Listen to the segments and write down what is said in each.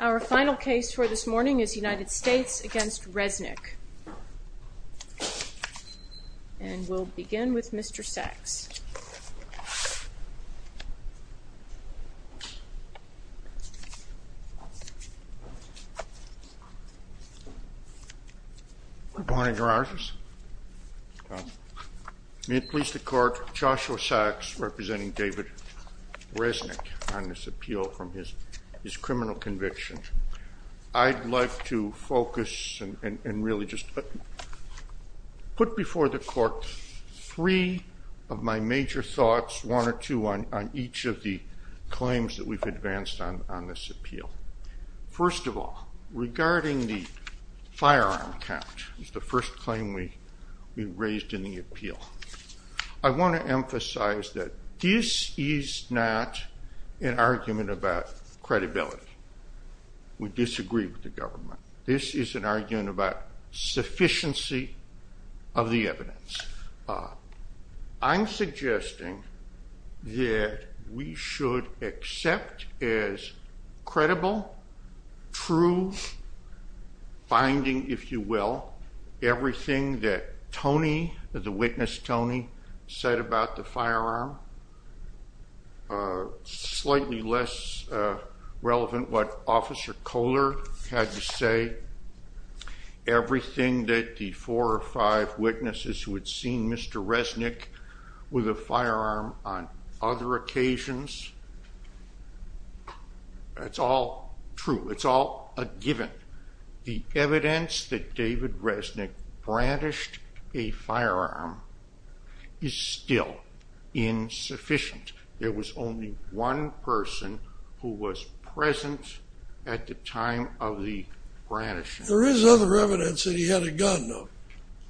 Our final case for this morning is United States v. David A. Resnick, and we'll begin with Mr. Sachs. Good morning, Your Honors. May it please the Court, Joshua Sachs representing David A. Resnick on this appeal from his criminal conviction. I'd like to focus and really just put before the Court three of my major thoughts, one or two on each of the claims that we've advanced on this appeal. First of all, regarding the firearm count, the first claim we raised in the appeal, I think this is not an argument about credibility. We disagree with the government. This is an argument about sufficiency of the evidence. I'm suggesting that we should accept as credible true finding, if you will, everything that Tony, the witness Tony, said about the firearm, slightly less relevant what Officer Kohler had to say, everything that the four or five It's all a given. The evidence that David Resnick brandished a firearm is still insufficient. There was only one person who was present at the time of the brandishing. There is other evidence that he had a gun, though.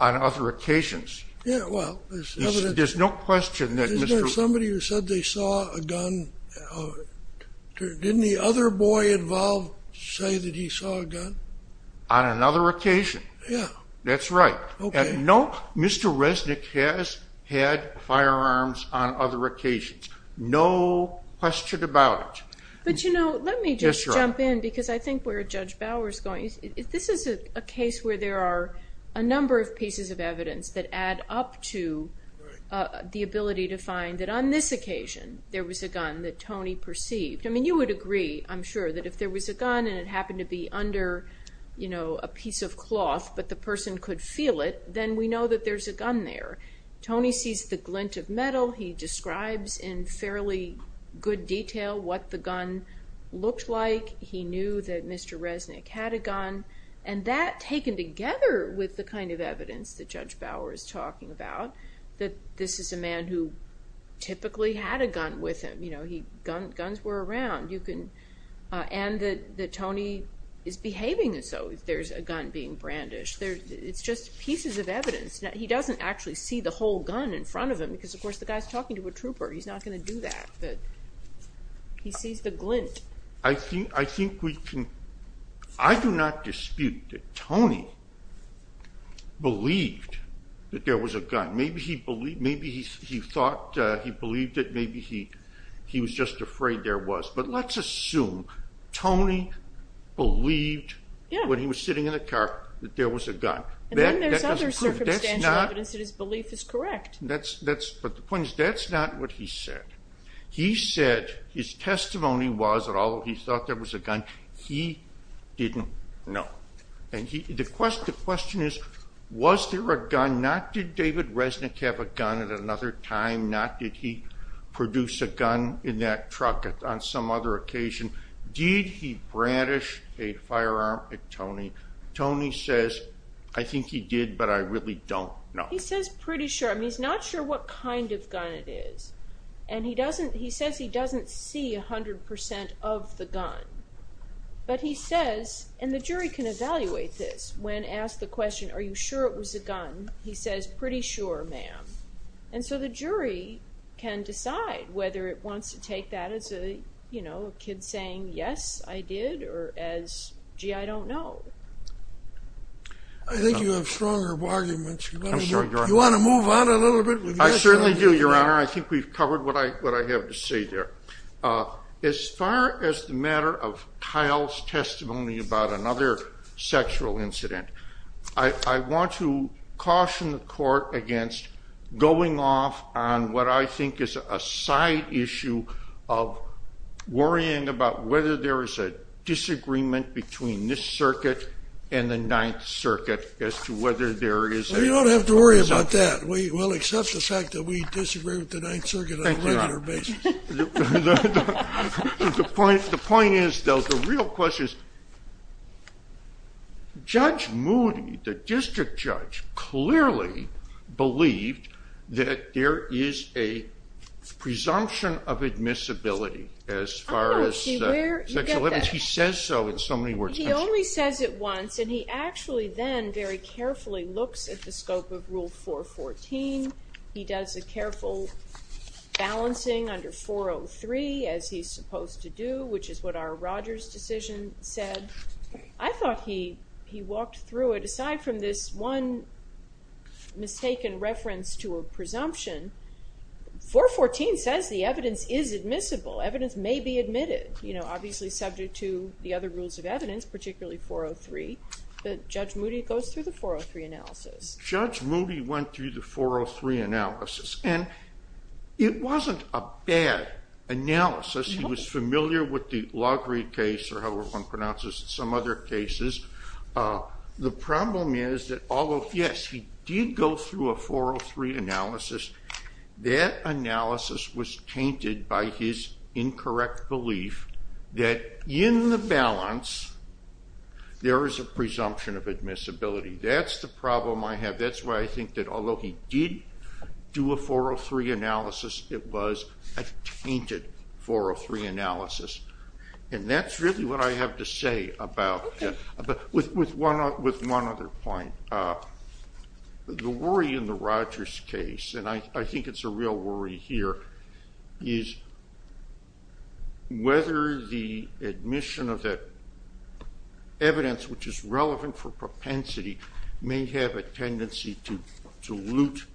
On other occasions. There's no question that Mr. Somebody who said they saw a gun, didn't the other boy involved say that he saw a gun? On another occasion. Yeah. That's right. Mr. Resnick has had firearms on other occasions. No question about it. But you know, let me just jump in because I think where Judge Bauer's going, this is a case where there are a number of pieces of evidence that add up to the ability to find that on this occasion, there was a gun that Tony perceived. I mean, you would agree, I'm sure that if there was a gun and it happened to be under, you know, a piece of cloth, but the person could feel it, then we know that there's a gun there. Tony sees the glint of metal. He describes in fairly good detail what the gun looked like. He knew that Mr. Resnick had a gun and that taken together with the kind of evidence that this is a man who typically had a gun with him, you know, guns were around, and that Tony is behaving as though there's a gun being brandished. It's just pieces of evidence. He doesn't actually see the whole gun in front of him because, of course, the guy's talking to a trooper. He's not going to do that, but he sees the glint. I think we can, I do not dispute that Tony believed that there was a gun. Maybe he thought he believed it. Maybe he was just afraid there was, but let's assume Tony believed when he was sitting in the car that there was a gun. And then there's other circumstantial evidence that his belief is correct. But the point is, that's not what he said. He said his testimony was that although he thought there was a gun, he didn't know. And the question is, was there a gun? Not did David Resnick have a gun at another time, not did he produce a gun in that truck on some other occasion. Did he brandish a firearm at Tony? Tony says, I think he did, but I really don't know. He says pretty sure. I mean, he's not sure what kind of gun it is. And he doesn't, he doesn't see a hundred percent of the gun, but he says, and the jury can evaluate this when asked the question, are you sure it was a gun? He says, pretty sure, ma'am. And so the jury can decide whether it wants to take that as a, you know, a kid saying, yes, I did, or as, gee, I don't know. I think you have stronger arguments. You want to move on a little bit? I certainly do, your Honor. I think we've covered what I, what I have to say there. As far as the matter of Kyle's testimony about another sexual incident, I want to caution the court against going off on what I think is a side issue of worrying about whether there is a disagreement between this circuit and the ninth circuit as to whether there is. You don't have to worry about that. We will accept the fact that we disagree with the ninth circuit on a regular basis. The point, the point is, though, the real question is, Judge Moody, the district judge, clearly believed that there is a presumption of admissibility as far as sexual evidence. He says so in so many words. He only says it once, and he actually then very carefully looks at the scope of Rule 414. He does a careful balancing under 403 as he's supposed to do, which is what our Rogers decision said. I thought he, he walked through it. Aside from this one mistaken reference to a presumption, 414 says the evidence is admissible. Evidence may be admitted, you know, obviously subject to the other rules of evidence, particularly 403, but Judge Moody goes through the 403 analysis. Judge Moody went through the 403 analysis, and it wasn't a bad analysis. He was familiar with the Laugry case, or however one pronounces it, some other cases. The problem is that although, yes, he did go through a 403 analysis, that analysis was tainted by his incorrect belief that in the balance there is a presumption of admissibility. That's the problem I have. That's why I think that although he did do a 403 analysis, it was a tainted 403 analysis, and that's really what I have to say about, with one other point. The worry in the Rogers case, and I think it's a real worry here, is whether the admission of that evidence, which is relevant for propensity, may have a tendency to loot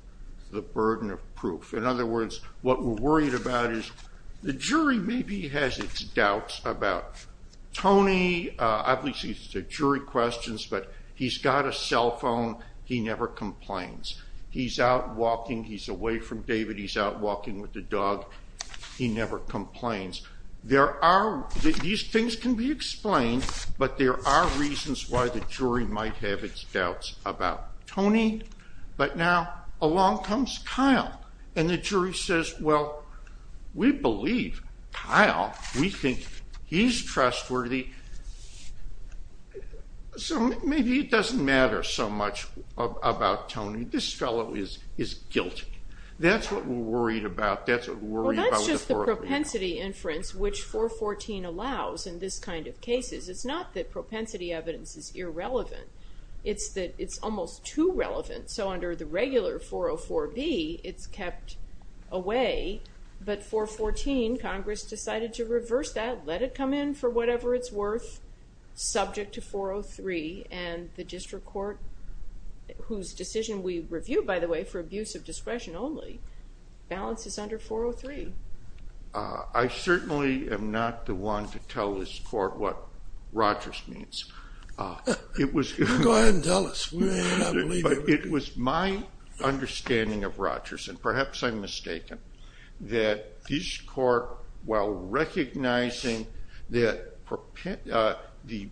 the burden of proof. In other words, what we're worried about is the jury maybe has its doubts about Tony. Obviously, it's the jury questions, but he's got a cell phone. He never complains. He's out walking. He's away from David. He's out walking with the dog. He never complains. These things can be explained, but there are reasons why the jury might have its doubts about Tony. Maybe it doesn't matter so much about Tony. This fellow is guilty. That's what we're worried about. That's just the propensity inference, which 414 allows in this kind of cases. It's not that propensity evidence is irrelevant. It's that it's almost too relevant, so under the regular 404B, it's kept away, but 414, Congress decided to reverse that, let it come in for whatever it's worth, subject to 403, and the district court, whose decision we review, by the way, for abuse of discretion only, balances under 403. I certainly am not the one to tell this court what Rogers means. Go ahead and tell us. It was my understanding of Rogers, and perhaps I'm mistaken, that this court, while recognizing that the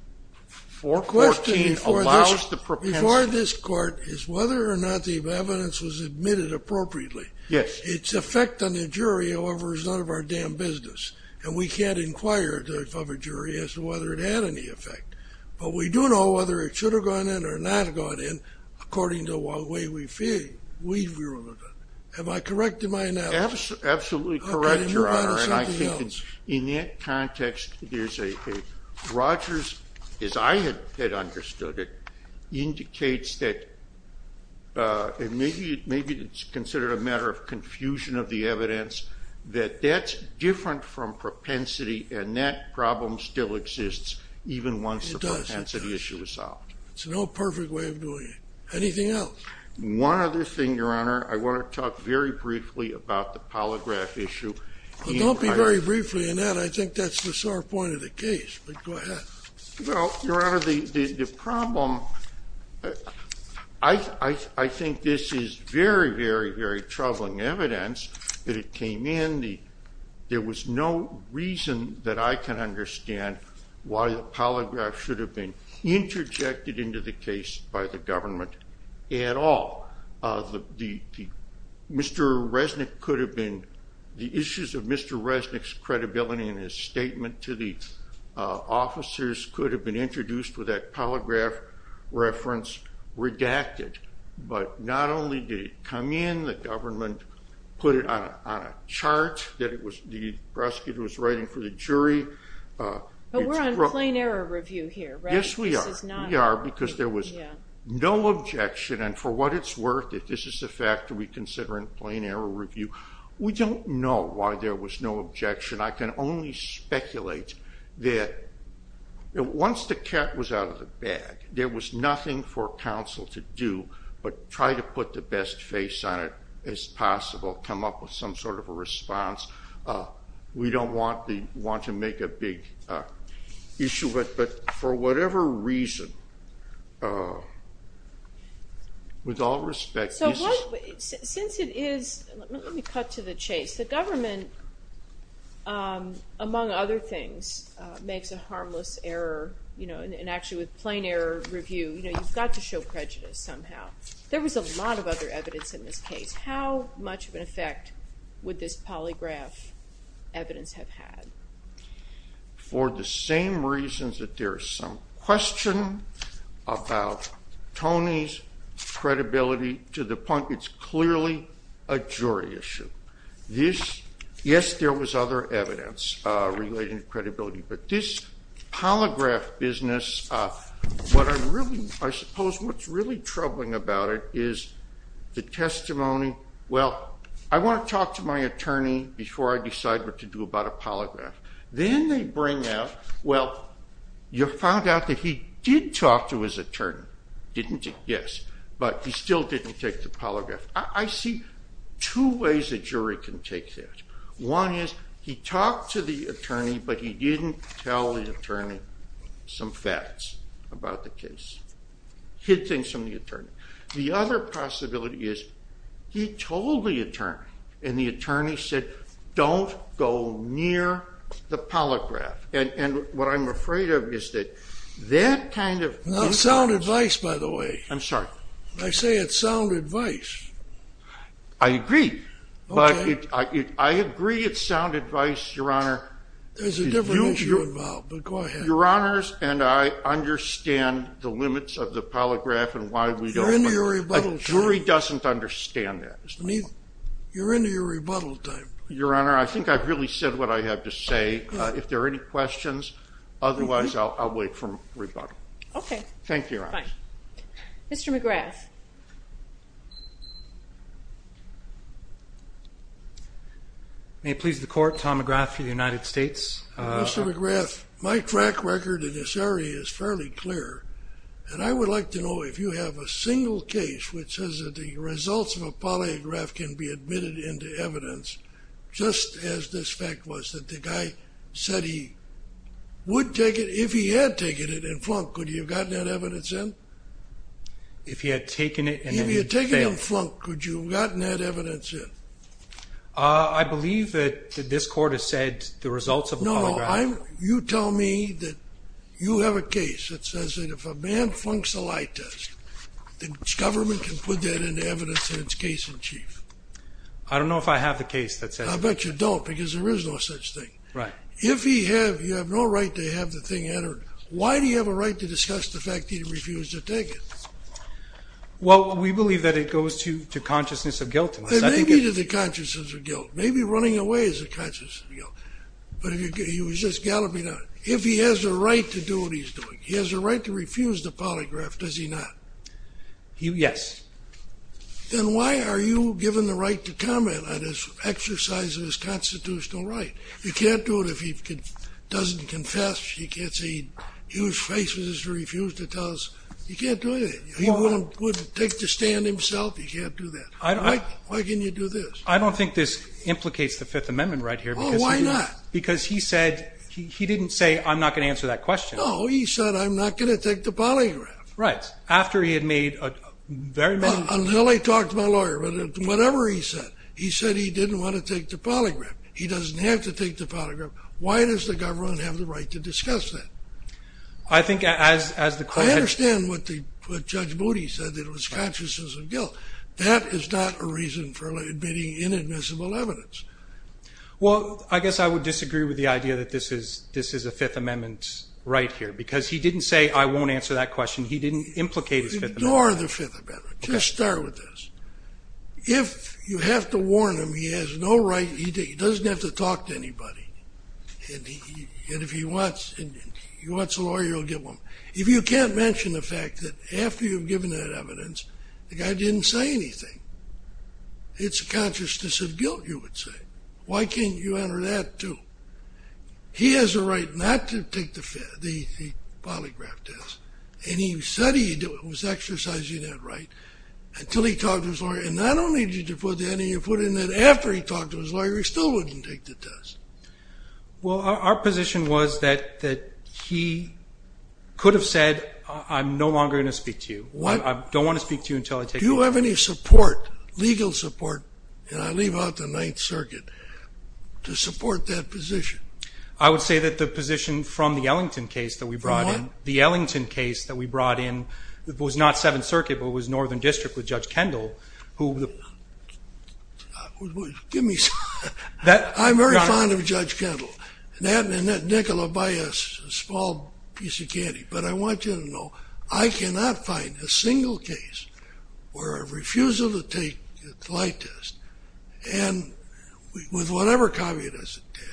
414 allows the propensity... The question before this court is whether or not the evidence was admitted appropriately. Its effect on the jury, however, is none of our damn business, and we can't inquire of a jury as to whether it had any effect, but we do know whether it should have gone in or not have gone in, according to the way we feel. Am I correct in my analysis? Absolutely correct, Your Honor, and I think in that context, there's a... Rogers, as I had understood it, indicates that, and maybe it's considered a matter of confusion of the evidence, that that's different from propensity, and that problem still even once the propensity issue is solved. It's no perfect way of doing it. Anything else? One other thing, Your Honor. I want to talk very briefly about the polygraph issue. Well, don't be very briefly in that. I think that's the sore point of the case, but go ahead. Well, Your Honor, the problem... I think this is very, very, very troubling evidence that it came in. There was no reason that I can understand why the polygraph should have been interjected into the case by the government at all. Mr. Resnick could have been... The issues of Mr. Resnick's credibility in his statement to the officers could have been introduced with that chart that the prosecutor was writing for the jury. But we're on plain error review here, right? Yes, we are, because there was no objection, and for what it's worth, if this is the factor we consider in plain error review, we don't know why there was no objection. I can only speculate that once the cat was out of the bag, there was nothing for counsel to do but try to put the best face on it as possible, come up with some sort of a response. We don't want to make a big issue, but for whatever reason, with all respect... Since it is... Let me cut to the chase. The government, among other things, makes a harmless error, and actually with plain error review, you've got to show prejudice somehow. There was a lot of other evidence in this case. How much of an effect would this polygraph evidence have had? For the same reasons that there's some question about Tony's credibility to the point it's clearly a jury issue. Yes, there was other evidence relating to credibility, but this polygraph business, what I really... I suppose what's really troubling about it is the testimony, well, I want to talk to my attorney before I decide what to do about a polygraph. Then they bring out, well, you found out that he did talk to his attorney, didn't you? Yes, but he still didn't take the polygraph. I see two ways a jury can take that. One is he talked to the attorney, but he didn't tell the attorney some facts about the case, hid things from the attorney. The other possibility is he told the attorney, and the attorney said, don't go near the polygraph. And what I'm afraid of is that that kind of... Not sound advice, by the way. I'm sorry. I say it's sound advice. I agree, but I agree it's sound advice, Your Honor. There's a different issue involved, but go ahead. Your Honors, and I understand the limits of the polygraph and why we don't... You're into your rebuttal time. A jury doesn't understand that. You're into your rebuttal time. Your Honor, I think I've really said what I have to say. If there are any questions, otherwise, I'll wait for my rebuttal. Okay. Thank you, Your Honors. Mr. McGrath. May it please the court, Tom McGrath for the United States. Mr. McGrath, my track record in this area is fairly clear, and I would like to know if you have a single case which says that the results of a polygraph can be admitted into evidence, just as this fact was, that the guy said he would take it if he had taken it and flunked. Could you have gotten that evidence in? I believe that this court has said the results of a polygraph... No, no. You tell me that you have a case that says that if a man flunks a lie test, the government can put that into evidence in its case in chief. I don't know if I have the case that says that. I bet you don't, because there is no such thing. Right. If you have no right to have the thing entered, why do you have a right to discuss the fact that he refused to take the polygraph? Well, we believe that it goes to consciousness of guilt. It may be to the consciousness of guilt. Maybe running away is a consciousness of guilt, but he was just galloping on. If he has a right to do what he's doing, he has a right to refuse the polygraph, does he not? Yes. Then why are you given the right to comment on his exercise of his constitutional right? You can't do it if he doesn't confess. You can't say he refused to tell us. You can't do it. He wouldn't take the stand himself. You can't do that. Why can you do this? I don't think this implicates the Fifth Amendment right here. Well, why not? Because he said, he didn't say, I'm not going to answer that question. No, he said, I'm not going to take the polygraph. Right. After he had made a very... Well, until I talked to my lawyer, but whatever he said, he said he didn't want to take the polygraph. Why does the government have the right to discuss that? I think as the court had... I understand what Judge Moody said, that it was consciousness of guilt. That is not a reason for admitting inadmissible evidence. Well, I guess I would disagree with the idea that this is a Fifth Amendment right here, because he didn't say, I won't answer that question. He didn't implicate his Fifth Amendment. Ignore the Fifth Amendment. Just start with this. If you have to warn him, he has no right. He doesn't have to talk to anybody. And if he wants a lawyer, he'll get one. If you can't mention the fact that after you've given that evidence, the guy didn't say anything, it's a consciousness of guilt, you would say. Why can't you enter that too? He has a right not to take the polygraph test. And he said he was exercising that right until he talked to his lawyer. And not only did you put that in, you put in that after he talked to his lawyer, he still wouldn't take the test. Well, our position was that he could have said, I'm no longer going to speak to you. I don't want to speak to you until I take the test. Do you have any support, legal support, and I leave out the Ninth Circuit, to support that position? I would say that the position from the Ellington case that we brought in... From what? The Ellington case that we brought in was not Seventh Circuit, but it was Northern District with Judge Kendall, who... Give me... I'm very fond of Judge Kendall. And that and Nicola by a small piece of candy. But I want you to know, I cannot find a single case where a refusal to take the lie test, and with whatever caveat as it did,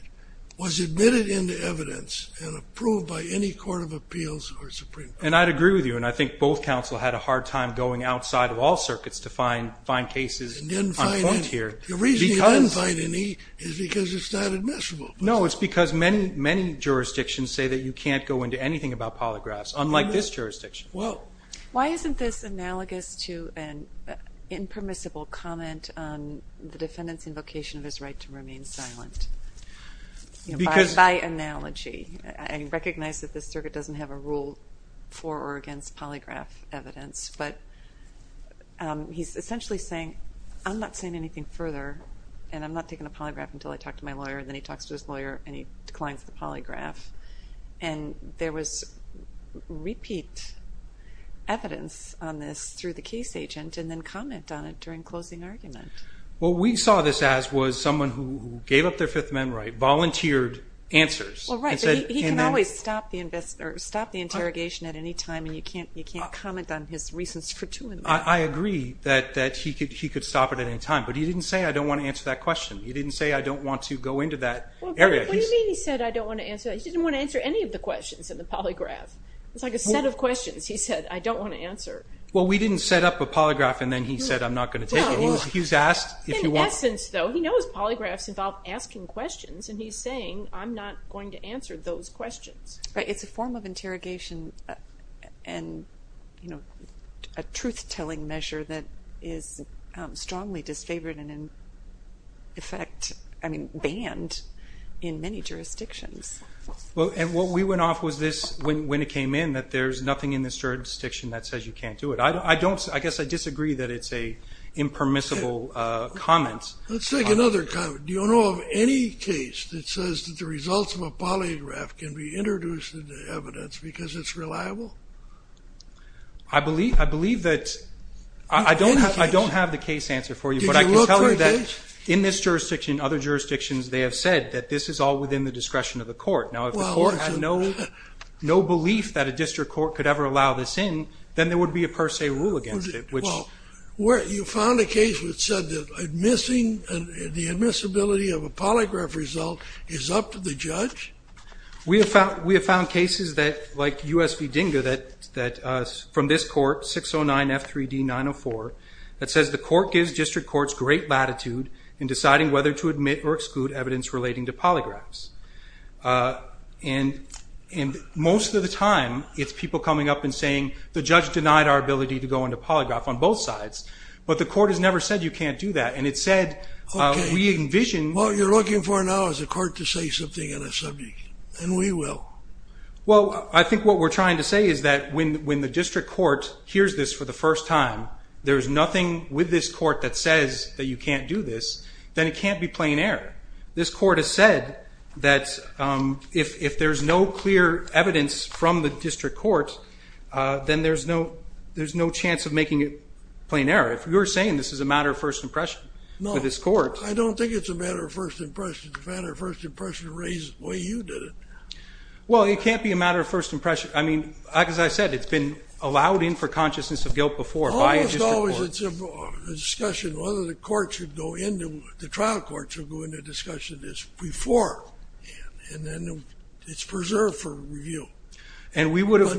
was admitted into evidence and approved by any court of appeals or Supreme Court. And I'd agree with you. And I think both counsel had a hard time going outside of all circuits to find cases on point here. The reason you didn't find any is because it's not admissible. No, it's because many jurisdictions say that you can't go into anything about polygraphs, unlike this jurisdiction. Well... Why isn't this analogous to an impermissible comment on the defendant's invocation of his right to remain silent? Because... By analogy. I recognize that this circuit doesn't have a rule for or against polygraph evidence, but he's essentially saying, I'm not saying anything further, and I'm not taking a polygraph until I talk to my lawyer. And then he talks to his lawyer, and he declines the polygraph. And there was repeat evidence on this through the case agent, and then comment on it during closing argument. What we saw this as was someone who gave up their Fifth Amendment right, volunteered answers. Well, right, but he can always stop the interrogation at any time, and you can't comment on his reasons for doing that. I agree that he could stop it at any time. But he didn't say, I don't want to answer that question. He didn't say, I don't want to go into that area. What do you mean he said, I don't want to answer that? He didn't want to answer any of the questions in the polygraph. It's like a set of questions he said, I don't want to answer. Well, we didn't set up a polygraph, and then he said, I'm not going to take it. He's asked if you want. In essence, though, he knows polygraphs involve asking questions, and he's saying, I'm not going to answer those questions. It's a form of interrogation and a truth-telling measure that is strongly disfavored and in effect, I mean, banned in many jurisdictions. Well, and what we went off was this when it came in, that there's nothing in this jurisdiction that says you can't do it. I guess I disagree that it's a impermissible comment. Let's take another comment. Do you know of any case that says that the results of a polygraph can be introduced into evidence because it's reliable? I believe that I don't have the case answer for you, but I can tell you that in this jurisdiction, other jurisdictions, they have said that this is all within the discretion of the court. Now, if the court had no belief that a district court could ever allow this in, then there would be a per se rule against it. Well, you found a case which said that the admissibility of a polygraph result is up to the judge? We have found cases like U.S. v. DINGA from this court, 609 F3D 904, that says the court gives district courts great latitude in deciding whether to admit or exclude evidence relating to polygraphs. The judge denied our ability to go into polygraph on both sides, but the court has never said you can't do that. What you're looking for now is a court to say something on a subject, and we will. Well, I think what we're trying to say is that when the district court hears this for the first time, there's nothing with this court that says that you can't do this, then it can't be plain error. This court has said that if there's no clear evidence from the district court, then there's no chance of making it plain error. If you're saying this is a matter of first impression with this court... I don't think it's a matter of first impression. It's a matter of first impression raised the way you did it. Well, it can't be a matter of first impression. I mean, as I said, it's been allowed in for consciousness of guilt before. Almost always it's a discussion whether the trial court should go into discussion this before, and then it's preserved for review. But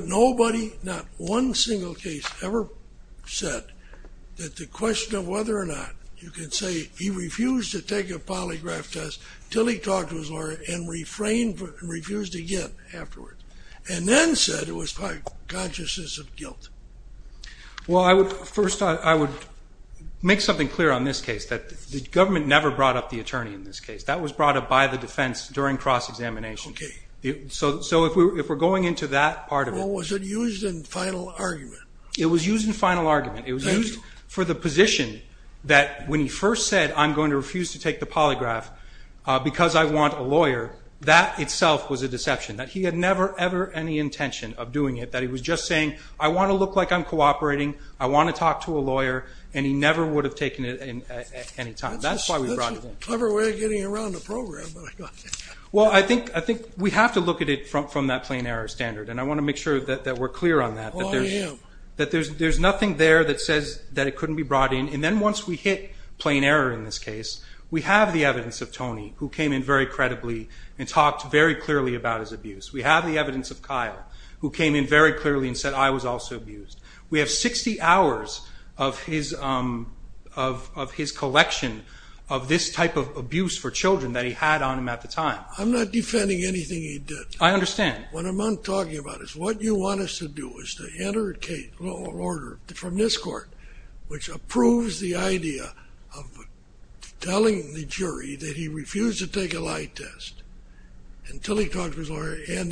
nobody, not one single case ever said that the question of whether or not you can say he refused to take a polygraph test until he talked to his lawyer and refrained, refused again afterwards, and then said it was by consciousness of guilt. Well, first I would make something clear on this case, that the government never brought up the attorney in this case. That was brought up by the defense during cross-examination. So if we're going into that part of it... Well, was it used in final argument? It was used in final argument. It was used for the position that when he first said, I'm going to refuse to take the polygraph because I want a lawyer, that itself was a deception. That he had never, ever any intention of doing it. That he was just saying, I want to look like I'm cooperating. I want to talk to a lawyer. And he never would have taken it at any time. That's why we brought it in. Clever way of getting around the program. Well, I think we have to look at it from that plain error standard. And I want to make sure that we're clear on that. That there's nothing there that says that it couldn't be brought in. And then once we hit plain error in this case, we have the evidence of Tony who came in very credibly and talked very clearly about his abuse. We have the evidence of Kyle who came in very clearly and said, I was also abused. We have 60 hours of his collection of this type of abuse for children that he had on him at the time. I'm not defending anything he did. I understand. What I'm talking about is what you want us to do is to enter a case order from this court, which approves the idea of telling the jury that he refused to take a lie test until he talked to his lawyer. And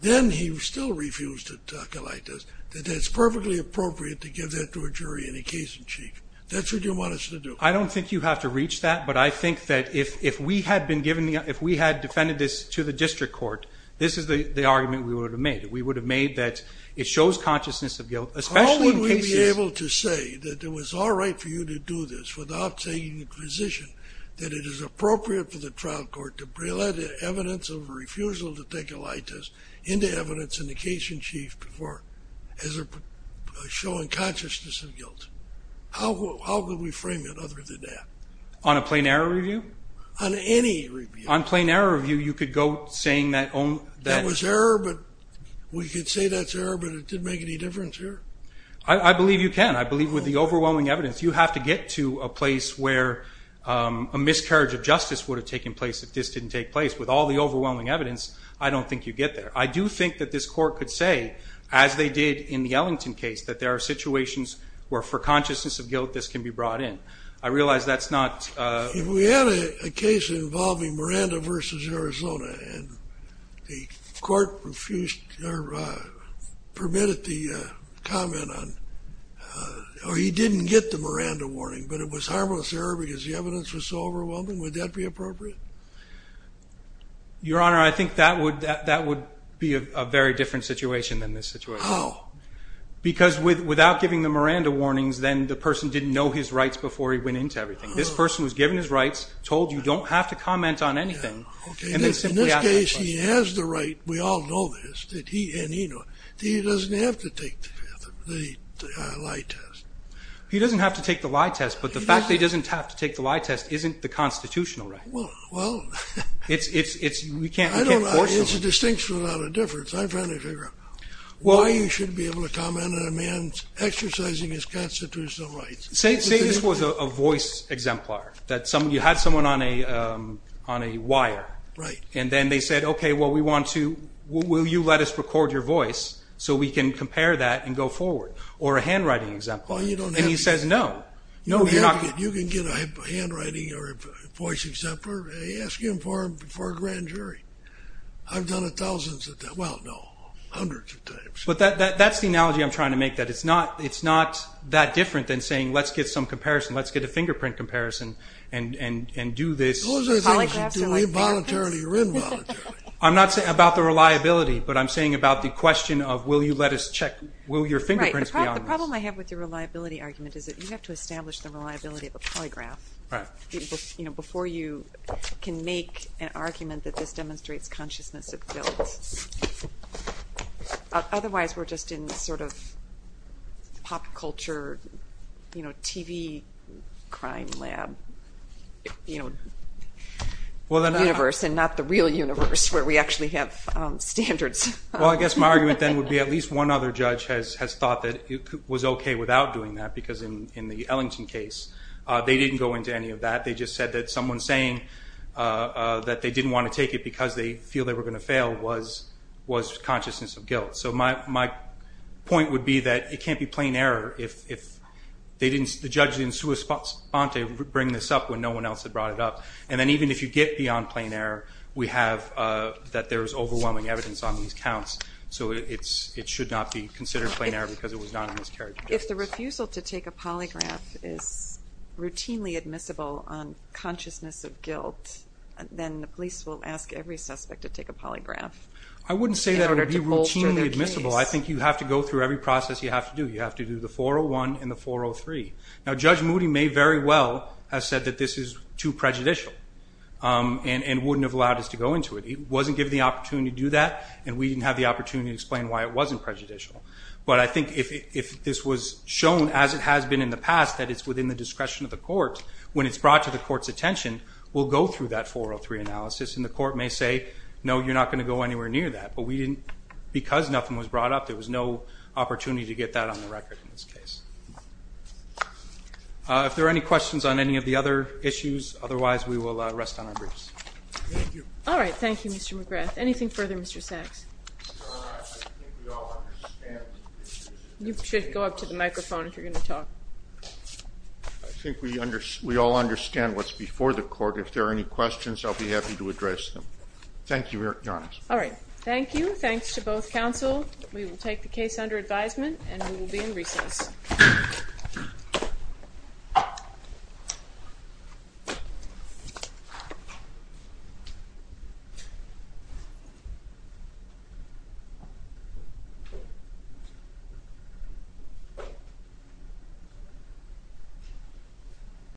then he still refused to take a lie test. That that's perfectly appropriate to give that to a jury in a case in chief. That's what you want us to do. I don't think you have to reach that. But I think that if we had defended this to the district court, this is the argument we would have made. We would have made that it shows consciousness of guilt, especially in cases. How would we be able to say that it was all right for you to do this without taking the position that it is appropriate for the trial court to bring evidence of refusal to take a lie test into evidence in the case in chief for showing consciousness of guilt? How would we frame it other than that? On a plain error review? On any review. On plain error review, you could go saying that only... That was error, but we could say that's error, but it didn't make any difference here. I believe you can. I believe with the overwhelming evidence, you have to get to a place where a miscarriage of justice would have taken place if this didn't take place. With all the overwhelming evidence, I don't think you get there. I do think that this court could say, as they did in the Ellington case, that there are situations where for consciousness of guilt, this can be brought in. I realize that's not... If we had a case involving Miranda versus Arizona and the court refused or permitted the comment on... Or he didn't get the Miranda warning, but it was harmless error because the evidence was so overwhelming, would that be appropriate? Your Honor, I think that would be a very different situation than this situation. How? Because without giving the Miranda warnings, then the person didn't know his rights before he went into everything. This person was given his rights, told you don't have to comment on anything, and then simply asked that question. In this case, he has the right. We all know this, and he knows. He doesn't have to take the lie test. He doesn't have to take the lie test, but the fact that he doesn't have to take the lie test isn't the constitutional right. Well, well... We can't force him. It's a distinction without a difference. I'm trying to figure out why you should be able to comment on a man exercising his constitutional rights. Say this was a voice exemplar, that you had someone on a wire, and then they said, okay, well, we want to... Will you let us record your voice so we can compare that and go forward? Or a handwriting exemplar. Well, you don't have to. And he says no. You can get a handwriting or a voice exemplar, ask him for a grand jury. I've done it thousands of times. Well, no, hundreds of times. But that's the analogy I'm trying to make, that it's not that different than saying, let's get some comparison. Let's get a fingerprint comparison and do this. Those are things you do involuntarily or involuntarily. I'm not saying about the reliability, but I'm saying about the question of, will you let us check? Will your fingerprints be on this? The problem I have with your reliability argument is that you have to establish the reliability of a polygraph before you can make an argument that this demonstrates consciousness of guilt. Otherwise, we're just in sort of pop culture TV crime lab universe and not the real universe where we actually have standards. Well, I guess my argument then would be at least one other judge has thought that it was OK without doing that. Because in the Ellington case, they didn't go into any of that. They just said that someone saying that they didn't want to take it because they feel they were going to fail was consciousness of guilt. So my point would be that it can't be plain error if the judge didn't bring this up when no one else had brought it up. And then even if you get beyond plain error, we have that there's overwhelming evidence on these counts. So it should not be considered plain error because it was not a miscarriage of justice. If the refusal to take a polygraph is routinely admissible on consciousness of guilt, then the police will ask every suspect to take a polygraph. I wouldn't say that would be routinely admissible. I think you have to go through every process you have to do. You have to do the 401 and the 403. Now, Judge Moody may very well have said that this is too prejudicial and wouldn't have allowed us to go into it. He wasn't given the opportunity to do that and we didn't have the opportunity to explain why it wasn't prejudicial. But I think if this was shown as it has been in the past that it's within the discretion of the court when it's brought to the court's attention, we'll go through that 403 analysis and the court may say, no, you're not going to go anywhere near that. But because nothing was brought up, there was no opportunity to get that on the record in this case. If there are any questions on any of the other issues, otherwise, we will rest on our briefs. Thank you. All right. Thank you, Mr. McGrath. Anything further, Mr. Sachs? No, I think we all understand. You should go up to the microphone if you're going to talk. I think we all understand what's before the court. If there are any questions, I'll be happy to address them. Thank you, Your Honor. All right. Thank you. Thanks to both counsel. We will take the case under advisement and we will be in recess. Thank you.